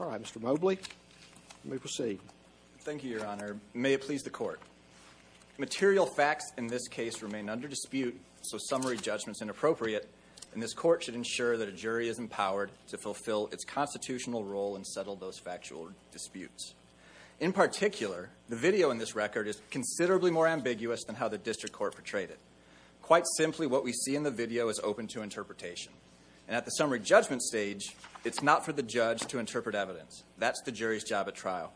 All right, Mr. Mobley, let me proceed. Thank you, Your Honor. May it please the Court. Material facts in this case remain under dispute, so summary judgment is inappropriate, and this Court should ensure that a jury is empowered to fulfill its constitutional role and settle those factual disputes. In particular, the video in this record is considerably more ambiguous than how the District Court portrayed it. Quite simply, what we see in the video is open to interpretation. And at the summary judgment stage, it's not for the judge to interpret evidence. That's the jury's job at trial.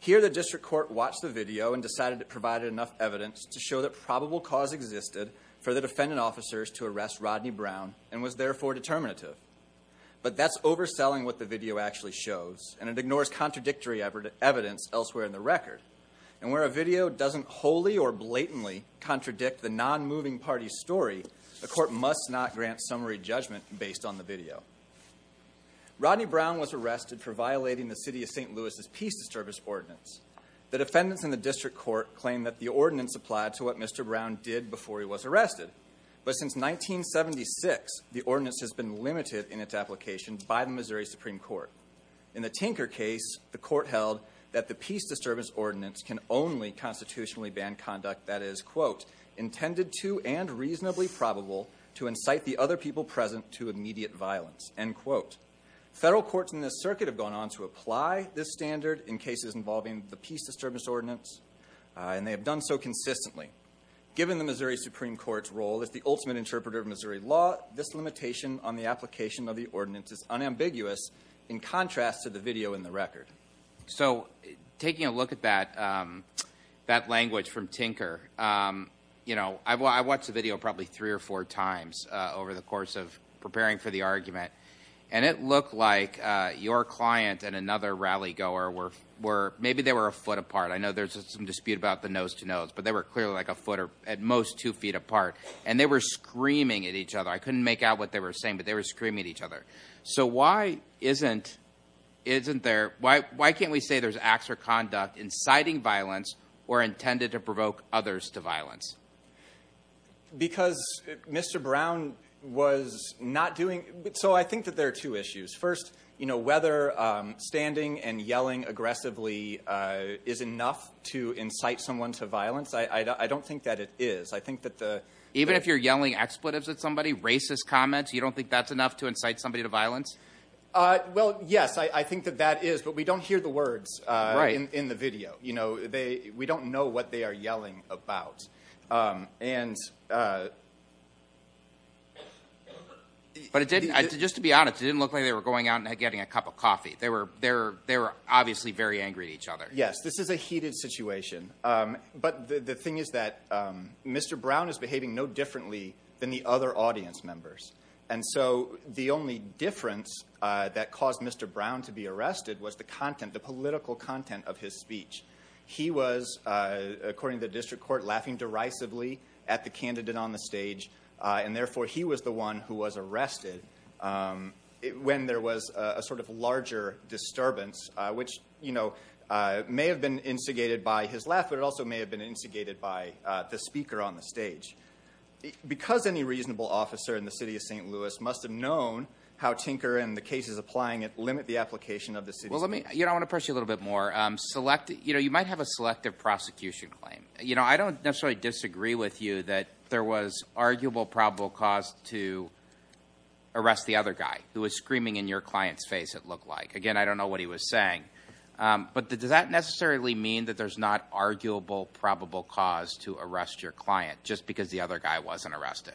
Here, the District Court watched the video and decided it provided enough evidence to show that probable cause existed for the defendant officers to arrest Rodney Brown and was therefore determinative. But that's overselling what the video actually shows, and it ignores contradictory evidence elsewhere in the record. And where a video doesn't wholly or blatantly contradict the non-moving party's view, the Court must not grant summary judgment based on the video. Rodney Brown was arrested for violating the City of St. Louis' Peace Disturbance Ordinance. The defendants in the District Court claim that the ordinance applied to what Mr. Brown did before he was arrested. But since 1976, the ordinance has been limited in its application by the Missouri Supreme Court. In the Tinker case, the Court held that the Peace Disturbance Ordinance can only constitutionally ban conduct that is, quote, intended to and reasonably probable to incite the other people present to immediate violence, end quote. Federal courts in this circuit have gone on to apply this standard in cases involving the Peace Disturbance Ordinance, and they have done so consistently. Given the Missouri Supreme Court's role as the ultimate interpreter of Missouri law, this limitation on the application of the ordinance is unambiguous in contrast to the video in the record. So taking a look at that language from Tinker, you know, I watched the video probably three or four times over the course of preparing for the argument, and it looked like your client and another rally-goer were, maybe they were a foot apart. I know there's some dispute about the nose-to-nose, but they were clearly like a foot or at most two feet apart, and they were screaming at each other. I couldn't make out what they were saying, but they were Why can't we say there's acts or conduct inciting violence or intended to provoke others to violence? Because Mr. Brown was not doing, so I think that there are two issues. First, you know, whether standing and yelling aggressively is enough to incite someone to violence, I don't think that it is. I think that the... Even if you're yelling expletives at somebody, racist comments, you don't think that's enough to incite somebody to violence? Well, yes, I think that that is, but we don't hear the words in the video. We don't know what they are yelling about. And... But it didn't, just to be honest, it didn't look like they were going out and getting a cup of coffee. They were obviously very angry at each other. Yes, this is a heated situation, but the thing is that Mr. Brown is behaving no differently than the other audience members, and so the only difference that caused Mr. Brown to be arrested was the content, the political content of his speech. He was, according to the district court, laughing derisively at the candidate on the stage, and therefore he was the one who was arrested when there was a sort of larger disturbance, which may have been instigated by his laugh, but it also may have been instigated by the Because any reasonable officer in the city of St. Louis must have known how tinker and the cases applying it limit the application of the city's... Well, let me, I want to push you a little bit more. Select, you know, you might have a selective prosecution claim. You know, I don't necessarily disagree with you that there was arguable probable cause to arrest the other guy who was screaming in your client's face it looked like. Again, I don't know what he was saying, but does that necessarily mean that there's not arguable probable cause to arrest your client just because the other wasn't arrested?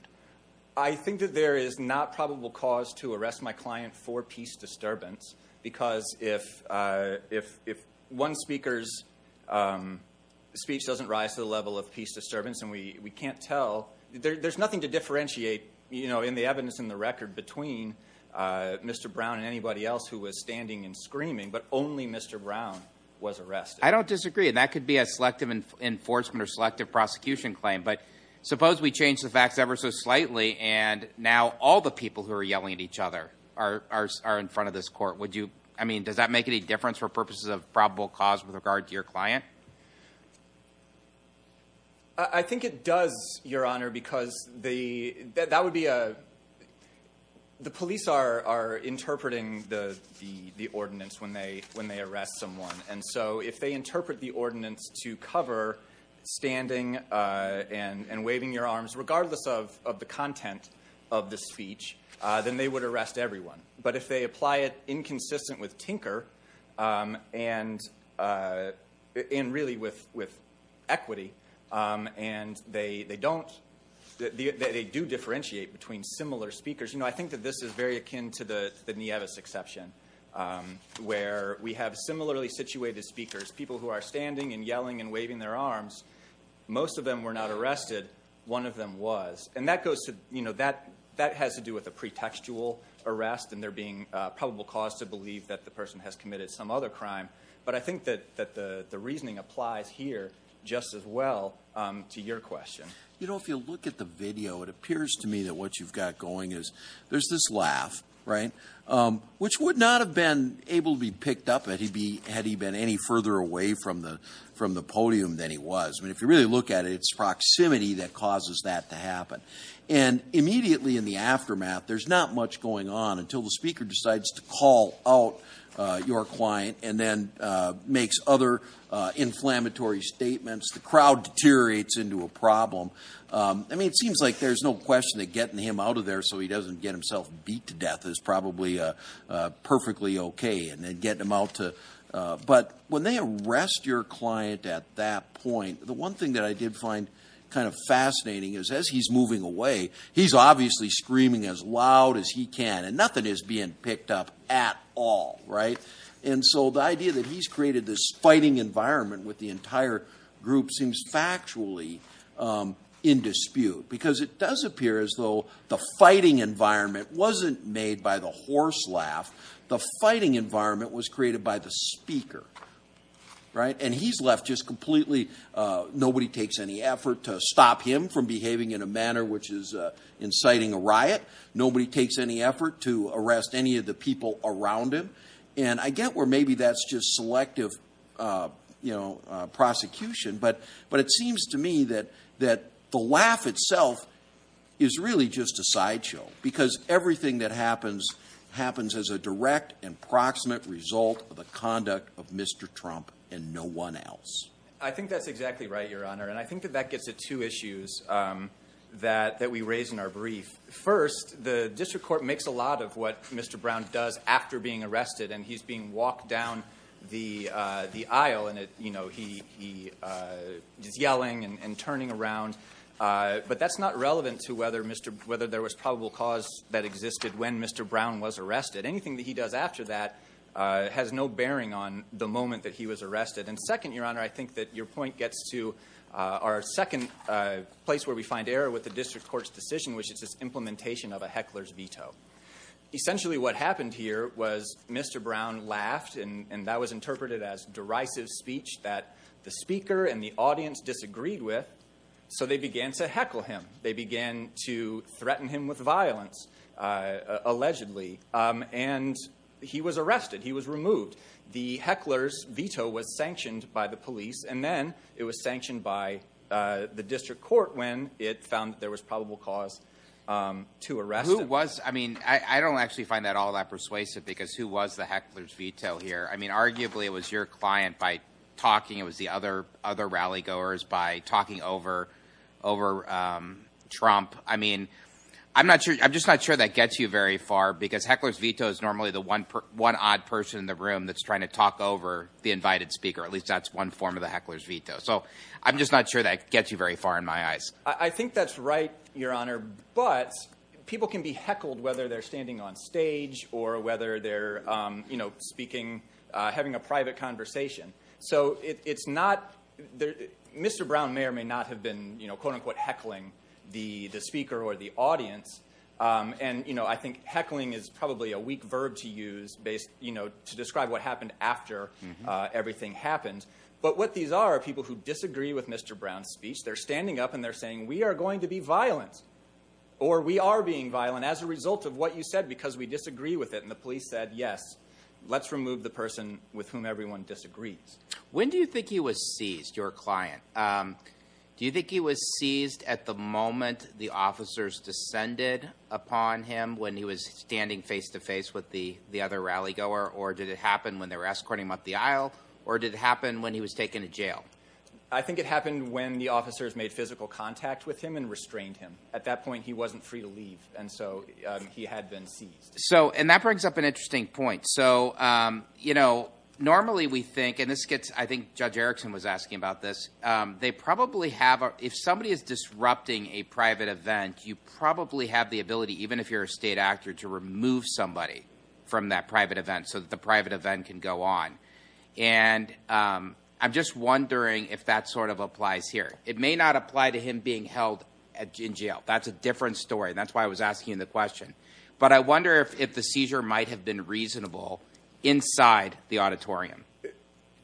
I think that there is not probable cause to arrest my client for peace disturbance because if one speaker's speech doesn't rise to the level of peace disturbance and we can't tell, there's nothing to differentiate, you know, in the evidence in the record between Mr. Brown and anybody else who was standing and screaming, but only Mr. Brown was arrested. I don't disagree. That could be a selective enforcement or selective prosecution claim, but suppose we change the facts ever so slightly and now all the people who are yelling at each other are in front of this court. Would you, I mean, does that make any difference for purposes of probable cause with regard to your client? I think it does, Your Honor, because the, that would be a, the police are, are interpreting the, the, the ordinance when they, when they and waving your arms, regardless of, of the content of the speech, then they would arrest everyone. But if they apply it inconsistent with tinker and in really with, with equity and they, they don't, they do differentiate between similar speakers. You know, I think that this is very akin to the, the Nevis exception where we have similarly situated speakers, people who are standing and yelling and waving their arms. Most of them were not arrested. One of them was, and that goes to, you know, that, that has to do with a pretextual arrest and they're being a probable cause to believe that the person has committed some other crime. But I think that, that the, the reasoning applies here just as well to your question. You know, if you look at the video, it appears to me that what you've got going is there's this laugh, right? Which would not have been able to be picked up at he'd be, had he been any further away from the, from the podium than he was. I mean, if you really look at it, it's proximity that causes that to happen. And immediately in the aftermath, there's not much going on until the speaker decides to call out your client and then makes other inflammatory statements. The crowd deteriorates into a problem. I mean, it seems like there's no question that getting him out of there so he doesn't get himself beat to death is probably perfectly okay. And then getting them out to, but when they arrest your client at that point, the one thing that I did find kind of fascinating is as he's moving away, he's obviously screaming as loud as he can and nothing is being picked up at all. Right? And so the idea that he's created this fighting environment with the entire group seems factually in dispute because it does as though the fighting environment wasn't made by the horse laugh. The fighting environment was created by the speaker. Right? And he's left just completely, nobody takes any effort to stop him from behaving in a manner which is inciting a riot. Nobody takes any effort to arrest any of the people around him. And I get where maybe that's just selective, you know, prosecution, but it seems to me that the laugh itself is really just a sideshow because everything that happens, happens as a direct and proximate result of the conduct of Mr. Trump and no one else. I think that's exactly right, Your Honor. And I think that that gets at two issues that we raised in our brief. First, the district court makes a lot of what Mr. Brown does after being around, but that's not relevant to whether there was probable cause that existed when Mr. Brown was arrested. Anything that he does after that has no bearing on the moment that he was arrested. And second, Your Honor, I think that your point gets to our second place where we find error with the district court's decision, which is this implementation of a heckler's veto. Essentially, what happened here was Mr. Brown laughed and that was interpreted as derisive speech that the speaker and the audience disagreed with, so they began to heckle him. They began to threaten him with violence, allegedly, and he was arrested. He was removed. The heckler's veto was sanctioned by the police and then it was sanctioned by the district court when it found that there was probable cause to arrest him. Who was, I mean, I don't actually find that all that persuasive because who was the heckler's veto here? I mean, arguably it was your client by talking, it was the other rally goers by talking over Trump. I mean, I'm just not sure that gets you very far because heckler's veto is normally the one odd person in the room that's trying to talk over the invited speaker. At least that's one form of the heckler's veto. So I'm just not sure that gets you very far in my eyes. I think that's right, Your Honor, but people can be heckled whether they're standing on stage or whether they're, you know, speaking, having a private conversation. So it's not, Mr. Brown may or may not have been, you know, quote-unquote heckling the speaker or the audience. And, you know, I think heckling is probably a weak verb to use based, you know, to describe what happened after everything happened. But what these are are people who disagree with Mr. Brown's speech. They're standing up and they're saying, we are going to be violent or we are being violent as a result of what you said because we disagree with it. And the police said, yes, let's remove the person with whom everyone disagrees. When do you think he was seized, your client? Do you think he was seized at the moment the officers descended upon him when he was standing face to face with the other rally goer or did it happen when they were escorting him up the aisle or did it happen when he was taken to jail? I think it happened when the at that point he wasn't free to leave. And so he had been seized. So, and that brings up an interesting point. So, you know, normally we think, and this gets, I think Judge Erickson was asking about this. They probably have, if somebody is disrupting a private event, you probably have the ability, even if you're a state actor, to remove somebody from that private event so that the private event can go on. And I'm just wondering if that sort of a different story. And that's why I was asking the question, but I wonder if the seizure might have been reasonable inside the auditorium.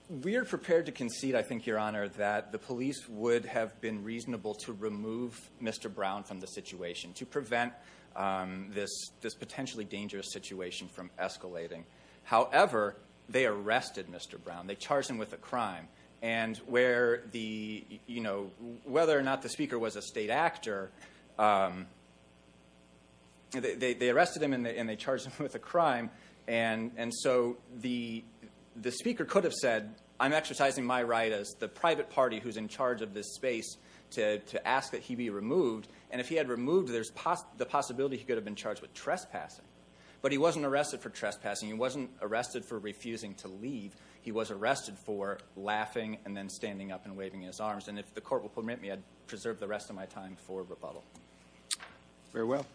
We're prepared to concede. I think your honor, that the police would have been reasonable to remove Mr. Brown from the situation to prevent this potentially dangerous situation from escalating. However, they arrested Mr. Brown, they charged him with a crime and where the, you know, whether or not the speaker was a state actor or not, they arrested him and they charged him with a crime. And so the speaker could have said, I'm exercising my right as the private party who's in charge of this space to ask that he be removed. And if he had removed, there's the possibility he could have been charged with trespassing, but he wasn't arrested for trespassing. He wasn't arrested for refusing to leave. He was arrested for laughing and then standing up and waving his arms. And if the court will permit me, I'd preserve the rest of my time for rebuttal. Very well.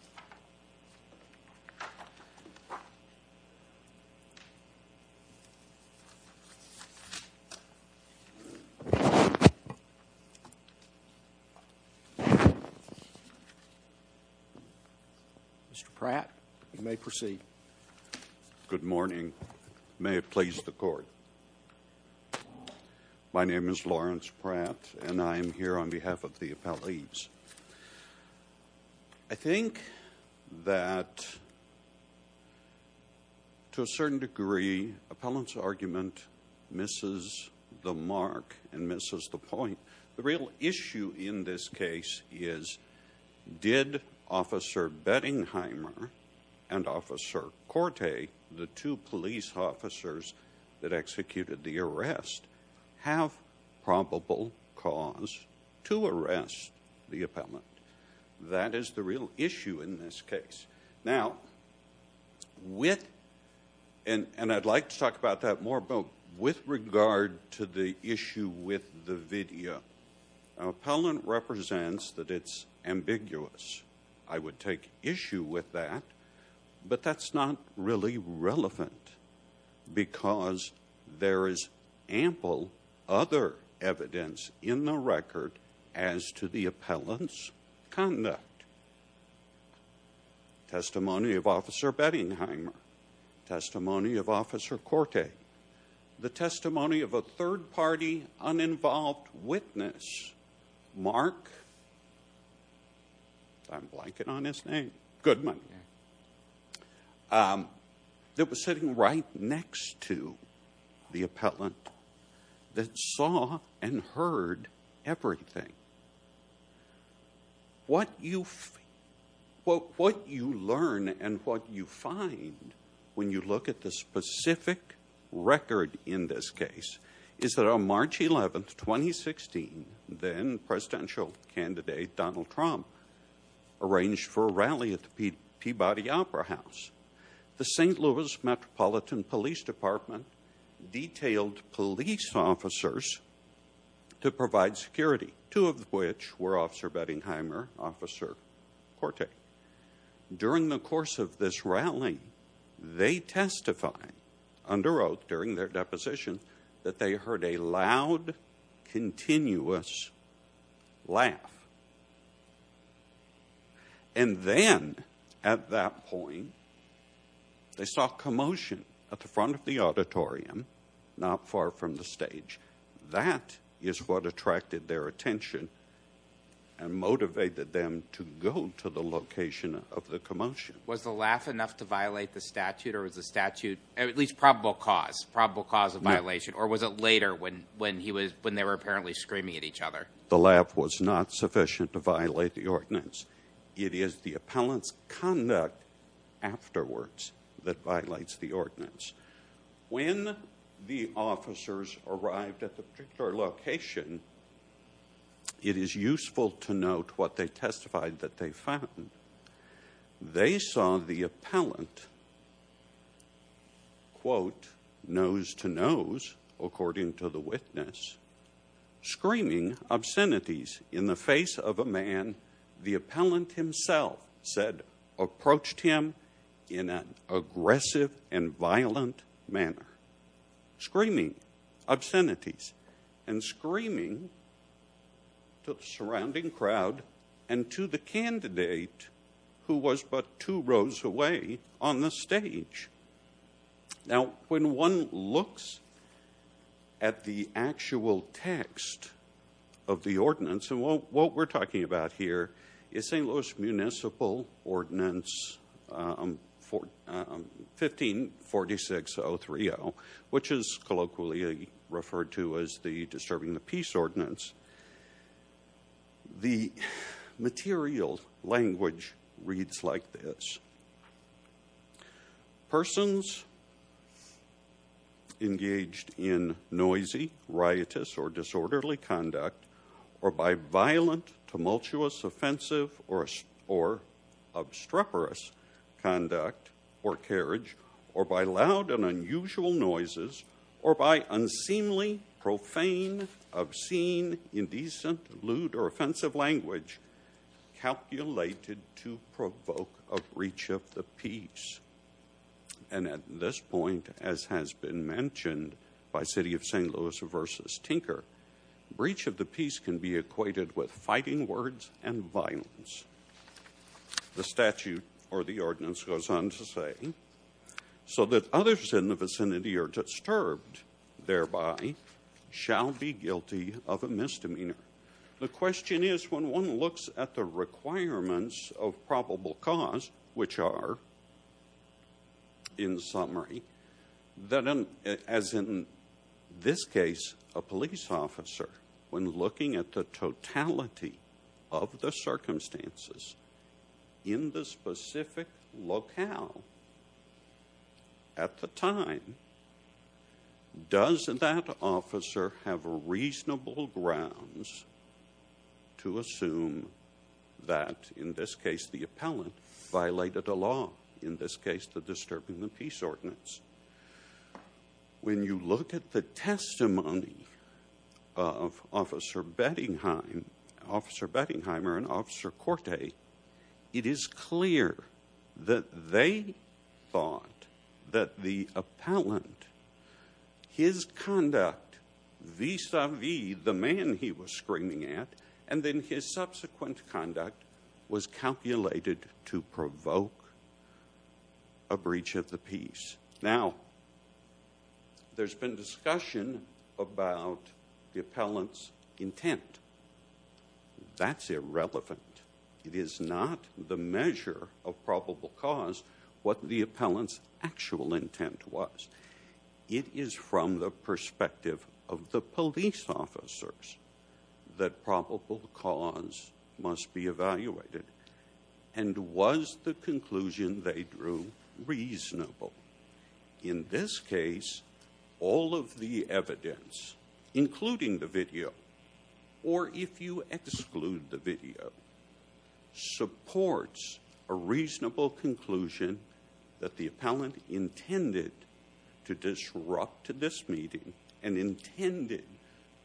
Mr. Pratt, you may proceed. Good morning. May it please the court. Good morning. My name is Lawrence Pratt and I am here on behalf of the appellees. I think that to a certain degree, appellant's argument misses the mark and misses the point. The real issue in this case is, did officer Bettingheimer and officer Corte, the two police officers that executed the arrest, have probable cause to arrest the appellant? That is the real issue in this case. Now, with, and I'd like to talk about that more, but with regard to the issue with the video, appellant represents that it's ambiguous. I would take issue with that, but that's not really relevant because there is ample other evidence in the record as to the appellant's conduct. Testimony of officer Bettingheimer, testimony of officer Corte, the testimony of a third party uninvolved witness, Mark, I'm blanking on his name, Goodman, that was sitting right next to the appellant that saw and heard everything. Now, what you learn and what you find when you look at the specific record in this case is that on March 11th, 2016, then presidential candidate Donald Trump arranged for a rally at the Peabody Opera House. The St. Louis Metropolitan Police Department detailed police officers to provide security, two of which were officer Bettingheimer, officer Corte. During the course of this rally, they testified under oath during their deposition that they heard a loud, continuous laugh. And then at that point, they saw commotion at the front of the auditorium, not far from the stage. That is what attracted their attention and motivated them to go to the location of the commotion. Was the laugh enough to violate the statute or was the statute, at least probable cause, probable cause of violation, or was it later when they were apparently screaming at each other? The laugh was not sufficient to violate the ordinance. It is the appellant's conduct afterwards that violates the ordinance. When the officers arrived at the particular location, it is useful to note what they testified that they found. They saw the appellant nose to nose, according to the witness, screaming obscenities in the face of a man the appellant said approached him in an aggressive and violent manner, screaming obscenities and screaming to the surrounding crowd and to the candidate who was but two rows away on the stage. Now, when one looks at the actual text of the ordinance, and what we're talking about here is St. Louis Municipal Ordinance 1546030, which is colloquially referred to as the Disturbing the Peace Ordinance, the material language reads like this. Persons engaged in noisy, riotous, or disorderly conduct, or by violent, tumultuous, offensive, or obstreperous conduct or carriage, or by loud and unusual noises, or by unseemly, profane, obscene, indecent, lewd, or offensive language calculated to provoke a breach of the peace. And at this point, as has been mentioned by City of St. Louis versus Tinker, breach of the peace can be equated with fighting words and violence. The statute or the ordinance goes on to say, so that others in the vicinity are disturbed thereby shall be guilty of a misdemeanor. The question is, when one looks at the requirements of probable cause, which are, in summary, that as in this case, a police officer, when looking at the totality of the circumstances in the specific locale at the time, does that officer have reasonable grounds to assume that, in this case, the appellant violated a law, in this case, the Disturbing Peace Ordinance. When you look at the testimony of Officer Bettingheimer and Officer Corte, it is clear that they thought that the appellant, his conduct vis-a-vis the man he was screaming at, and then his subsequent conduct was calculated to provoke a breach of the peace. Now, there's been discussion about the appellant's intent. That's irrelevant. It is not the measure of probable cause what the appellant's actual intent was. It is from the perspective of the cause must be evaluated. And was the conclusion they drew reasonable? In this case, all of the evidence, including the video, or if you exclude the video, supports a reasonable conclusion that the appellant intended to disrupt this meeting and intended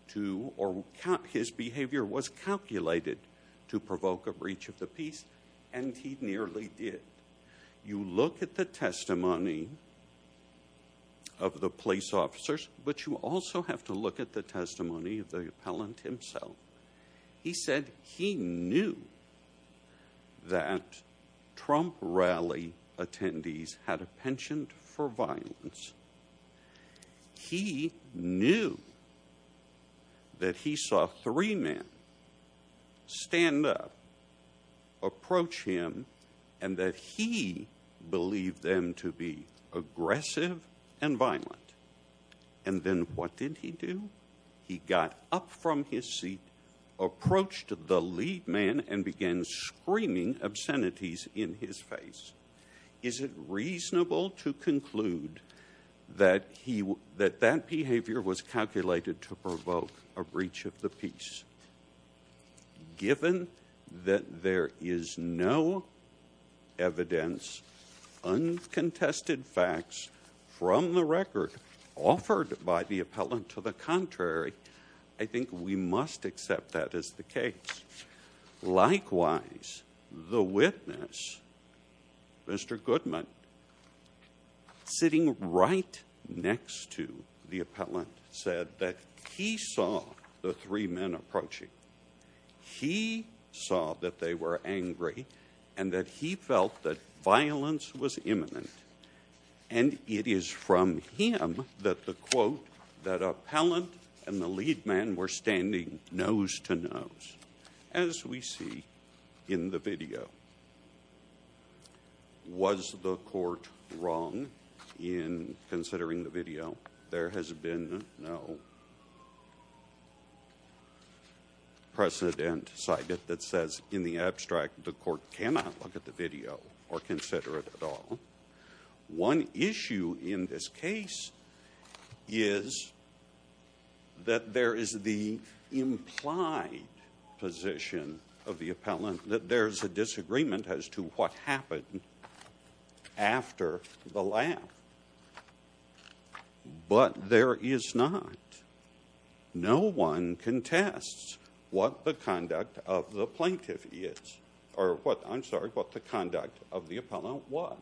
to, or his behavior was calculated to provoke a breach of the peace, and he nearly did. You look at the testimony of the police officers, but you also have to look at the testimony of the appellant himself. He said he knew that Trump rally attendees had a penchant for violence. He knew that he saw three men stand up, approach him, and that he believed them to be aggressive and violent. And then what did he do? He got up from his seat, approached the lead man, and began screaming obscenities in his face. Is it reasonable to conclude that that behavior was calculated to provoke a breach of the peace? Given that there is no evidence, uncontested facts from the record offered by the appellant to the contrary, I think we must accept that as the case. Likewise, the witness, Mr. Goodman, who is sitting right next to the appellant, said that he saw the three men approaching. He saw that they were angry and that he felt that violence was imminent. And it is from him that the quote that appellant and the lead man were standing nose to nose, as we see in the video, was the court wrong in considering the video? There has been no precedent cited that says in the abstract the court cannot look at the video or consider it at all. One issue in this case is that there is the implied position of the appellant that there is a disagreement as to what happened after the laugh. But there is not. No one contests what the conduct of the plaintiff is. I'm sorry, what the conduct of the appellant was.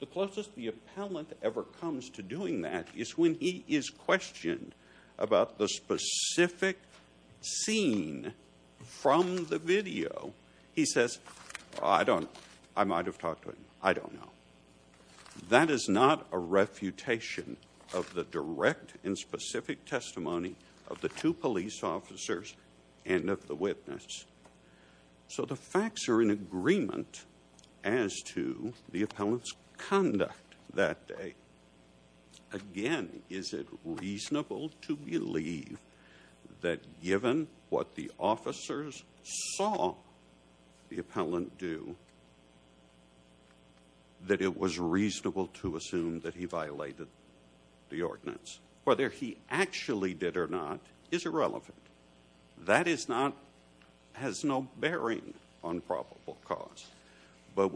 The closest the appellant ever comes to doing that is when he is questioned about the specific scene from the video. He says, I don't know. I might have talked to him. I don't know. That is not a refutation of the direct and specific testimony of the two police officers and of the witness. So the facts are in agreement as to the appellant's conduct that day. Again, is it reasonable to believe that given what the officers saw the appellant do, that it was reasonable to assume that he violated the ordinance? Whether he actually did or not is irrelevant. That is not has no bearing on probable cause. But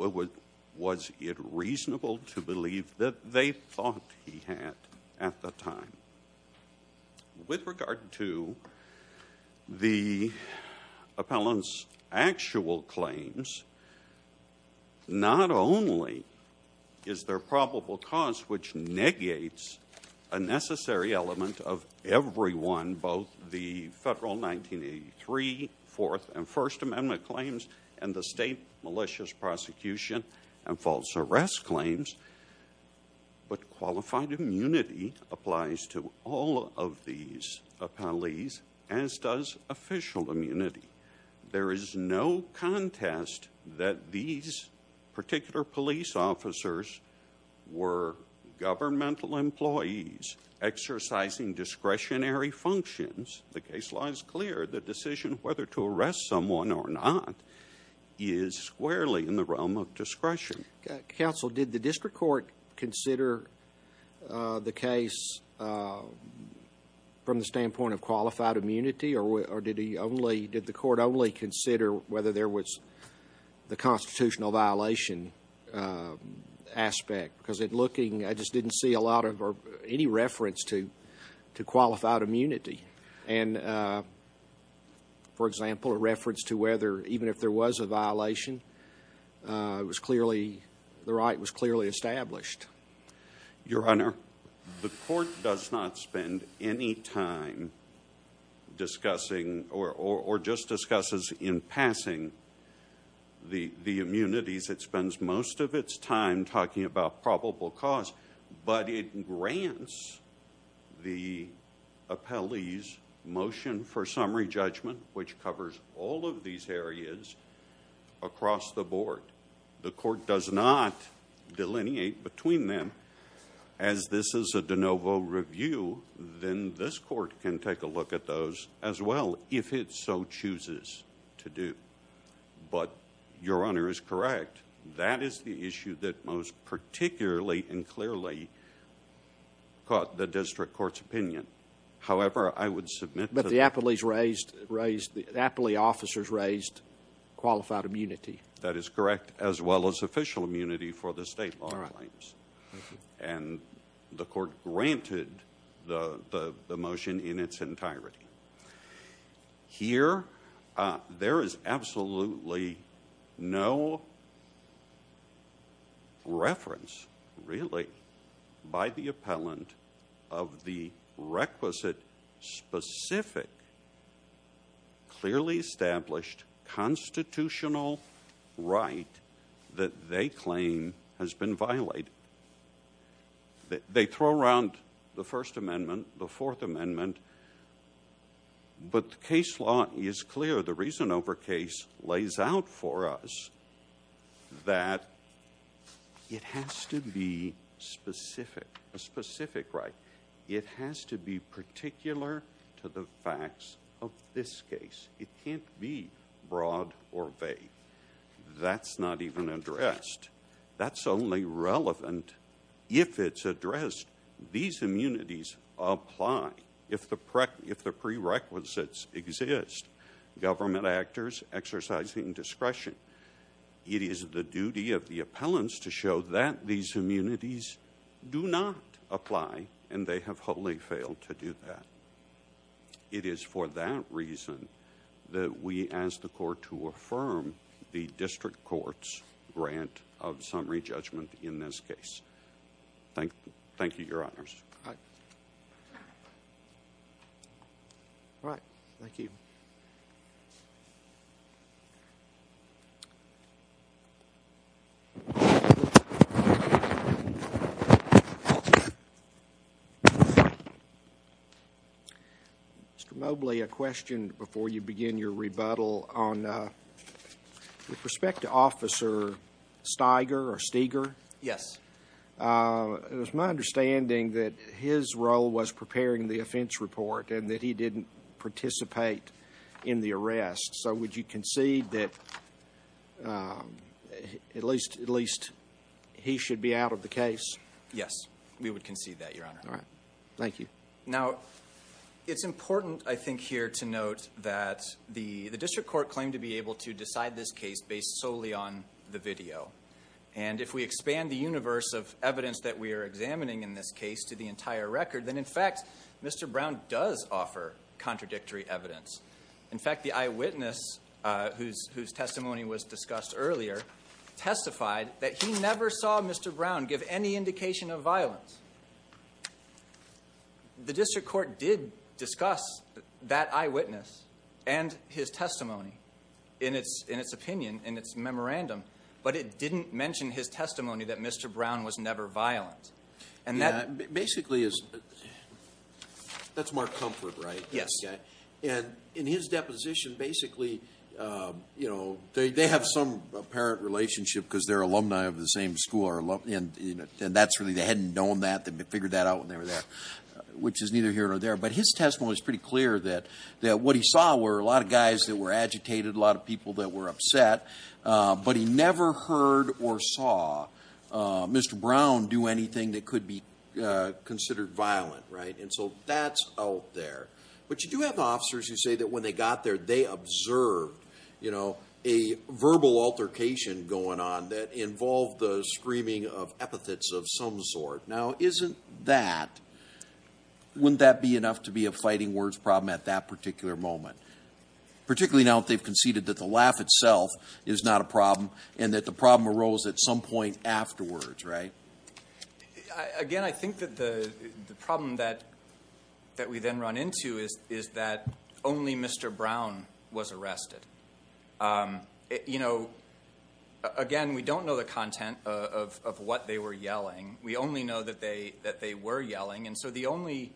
was it reasonable to believe that they thought he had at the time? With regard to the appellant's actual claims, not only is there probable cause which negates a necessary element of everyone, both the federal 1983 Fourth and First Amendment claims and the state malicious prosecution and false arrest claims, but qualified immunity applies to all of these appellees, as does official immunity. There is no contest that these particular police officers were governmental employees exercising discretionary functions. The case law is clear. The decision whether to arrest someone or not is squarely in the realm of discretion. Counsel, did the district court consider the case from the standpoint of qualified immunity? Or did the court only consider whether there was the constitutional violation aspect? Because I just didn't see any reference to qualified immunity. And for example, a reference to whether even if there was a violation, the right was clearly established. Your Honor, the court does not spend any time discussing or just discusses in passing the immunities. It spends most of its time talking about probable cause. But it grants the appellee's motion for summary judgment, which covers all of these areas, across the board. The court does not delineate between them. As this is a de novo review, then this court can take a look at those as well, if it so chooses to do. But Your Honor is correct. That is the issue that most particularly and clearly caught the district court's opinion. However, I would submit... But the appellee's raised, the appellee officers raised qualified immunity. That is correct, as well as official immunity for the state law claims. And the court granted the motion in its entirety. Here, there is absolutely no reference, really, by the appellant of the requisite specific, clearly established, constitutional right that they claim has been violated. They throw around the First Amendment, the Fourth Amendment, but the case law is clear. The reason over case lays out for us that it has to be specific, a specific right. It has to be particular to the facts of this case. It can't be broad or vague. That's not even addressed. That's only relevant if it's addressed. These immunities apply if the prerequisites exist. Government actors exercising discretion. It is the duty of the appellants to show that these immunities do not apply, and they have wholly failed to do that. It is for that reason that we ask the court to affirm the district court's grant of summary judgment in this case. Thank you, Your Honors. All right. Thank you. Mr. Mobley, a question before you begin your rebuttal. With respect to Officer Steiger, it was my understanding that his role was preparing the offense report and that he didn't participate in the arrest. So would you concede that at least he should be out of the case? Yes, we would concede that, Your Honor. All right. Thank you. Now, it's important, I think, here to note that the district court claimed to be able to decide this case based solely on the video. And if we expand the universe of evidence that we are In fact, the eyewitness whose testimony was discussed earlier testified that he never saw Mr. Brown give any indication of violence. The district court did discuss that eyewitness and his testimony in its opinion, in its memorandum, but it didn't mention his testimony that Mr. Brown was never violent. And that basically is, that's Mark Comfort, right? Yes. And in his deposition, basically, you know, they have some apparent relationship because they're alumni of the same school. And that's really, they hadn't known that. They figured that out when they were there, which is neither here nor there. But his testimony is pretty clear that what he saw were a lot of guys that were agitated, a lot of people that were upset, but he never heard or saw Mr. Brown do anything that could be considered violent, right? And so that's out there. But you do have officers who say that when they got there, they observed, you know, a verbal altercation going on that involved the screaming of epithets of some sort. Now, isn't that, wouldn't that be enough to be a fighting words problem at that particular moment? Particularly now that they've conceded that the laugh itself is not a problem and that the problem arose at some point afterwards, right? Again, I think that the problem that we then run into is that only Mr. Brown was arrested. You know, again, we don't know the content of what they were yelling. We only know that they were yelling. And so the only,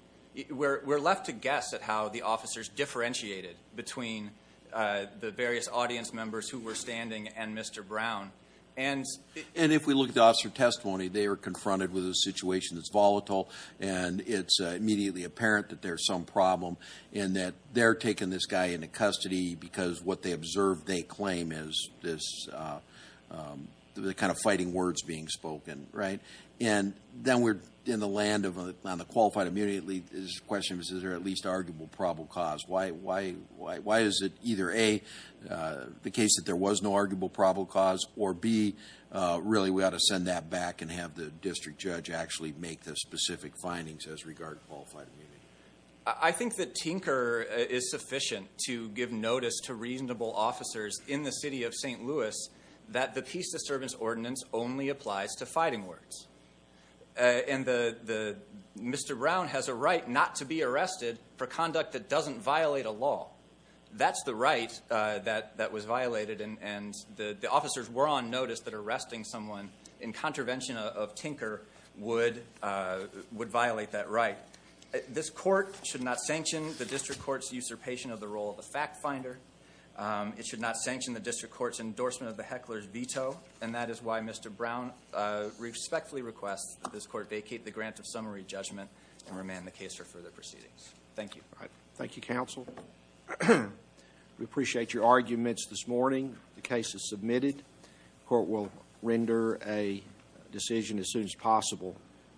we're left to guess at how the officers differentiated between the various audience members who were standing and Mr. Brown. And if we look at the officer testimony, they were confronted with a situation that's volatile and it's immediately apparent that there's some problem and that they're taking this guy into custody because what they observed, they claim is this, the kind of fighting words being spoken, right? And then we're in the land on the qualified immunity. The question is, is there at least arguable probable cause? Why is it either A, the case that there was no arguable probable cause or B, really we ought to send that back and have the district judge actually make the specific findings as regard qualified. I think that tinker is sufficient to give notice to reasonable officers in the city of St. Louis that the peace disturbance ordinance only applies to fighting words. And Mr. Brown has a right not to be arrested for conduct that doesn't violate a law. That's the right that was violated and the officers were on notice that arresting someone in contravention of tinker would violate that right. This court should not sanction the district court's usurpation of the fact finder. It should not sanction the district court's endorsement of the heckler's veto and that is why Mr. Brown respectfully requests that this court vacate the grant of summary judgment and remand the case for further proceedings. Thank you. All right. Thank you, counsel. We appreciate your arguments this morning. The case is submitted. Court will render a decision as soon as possible.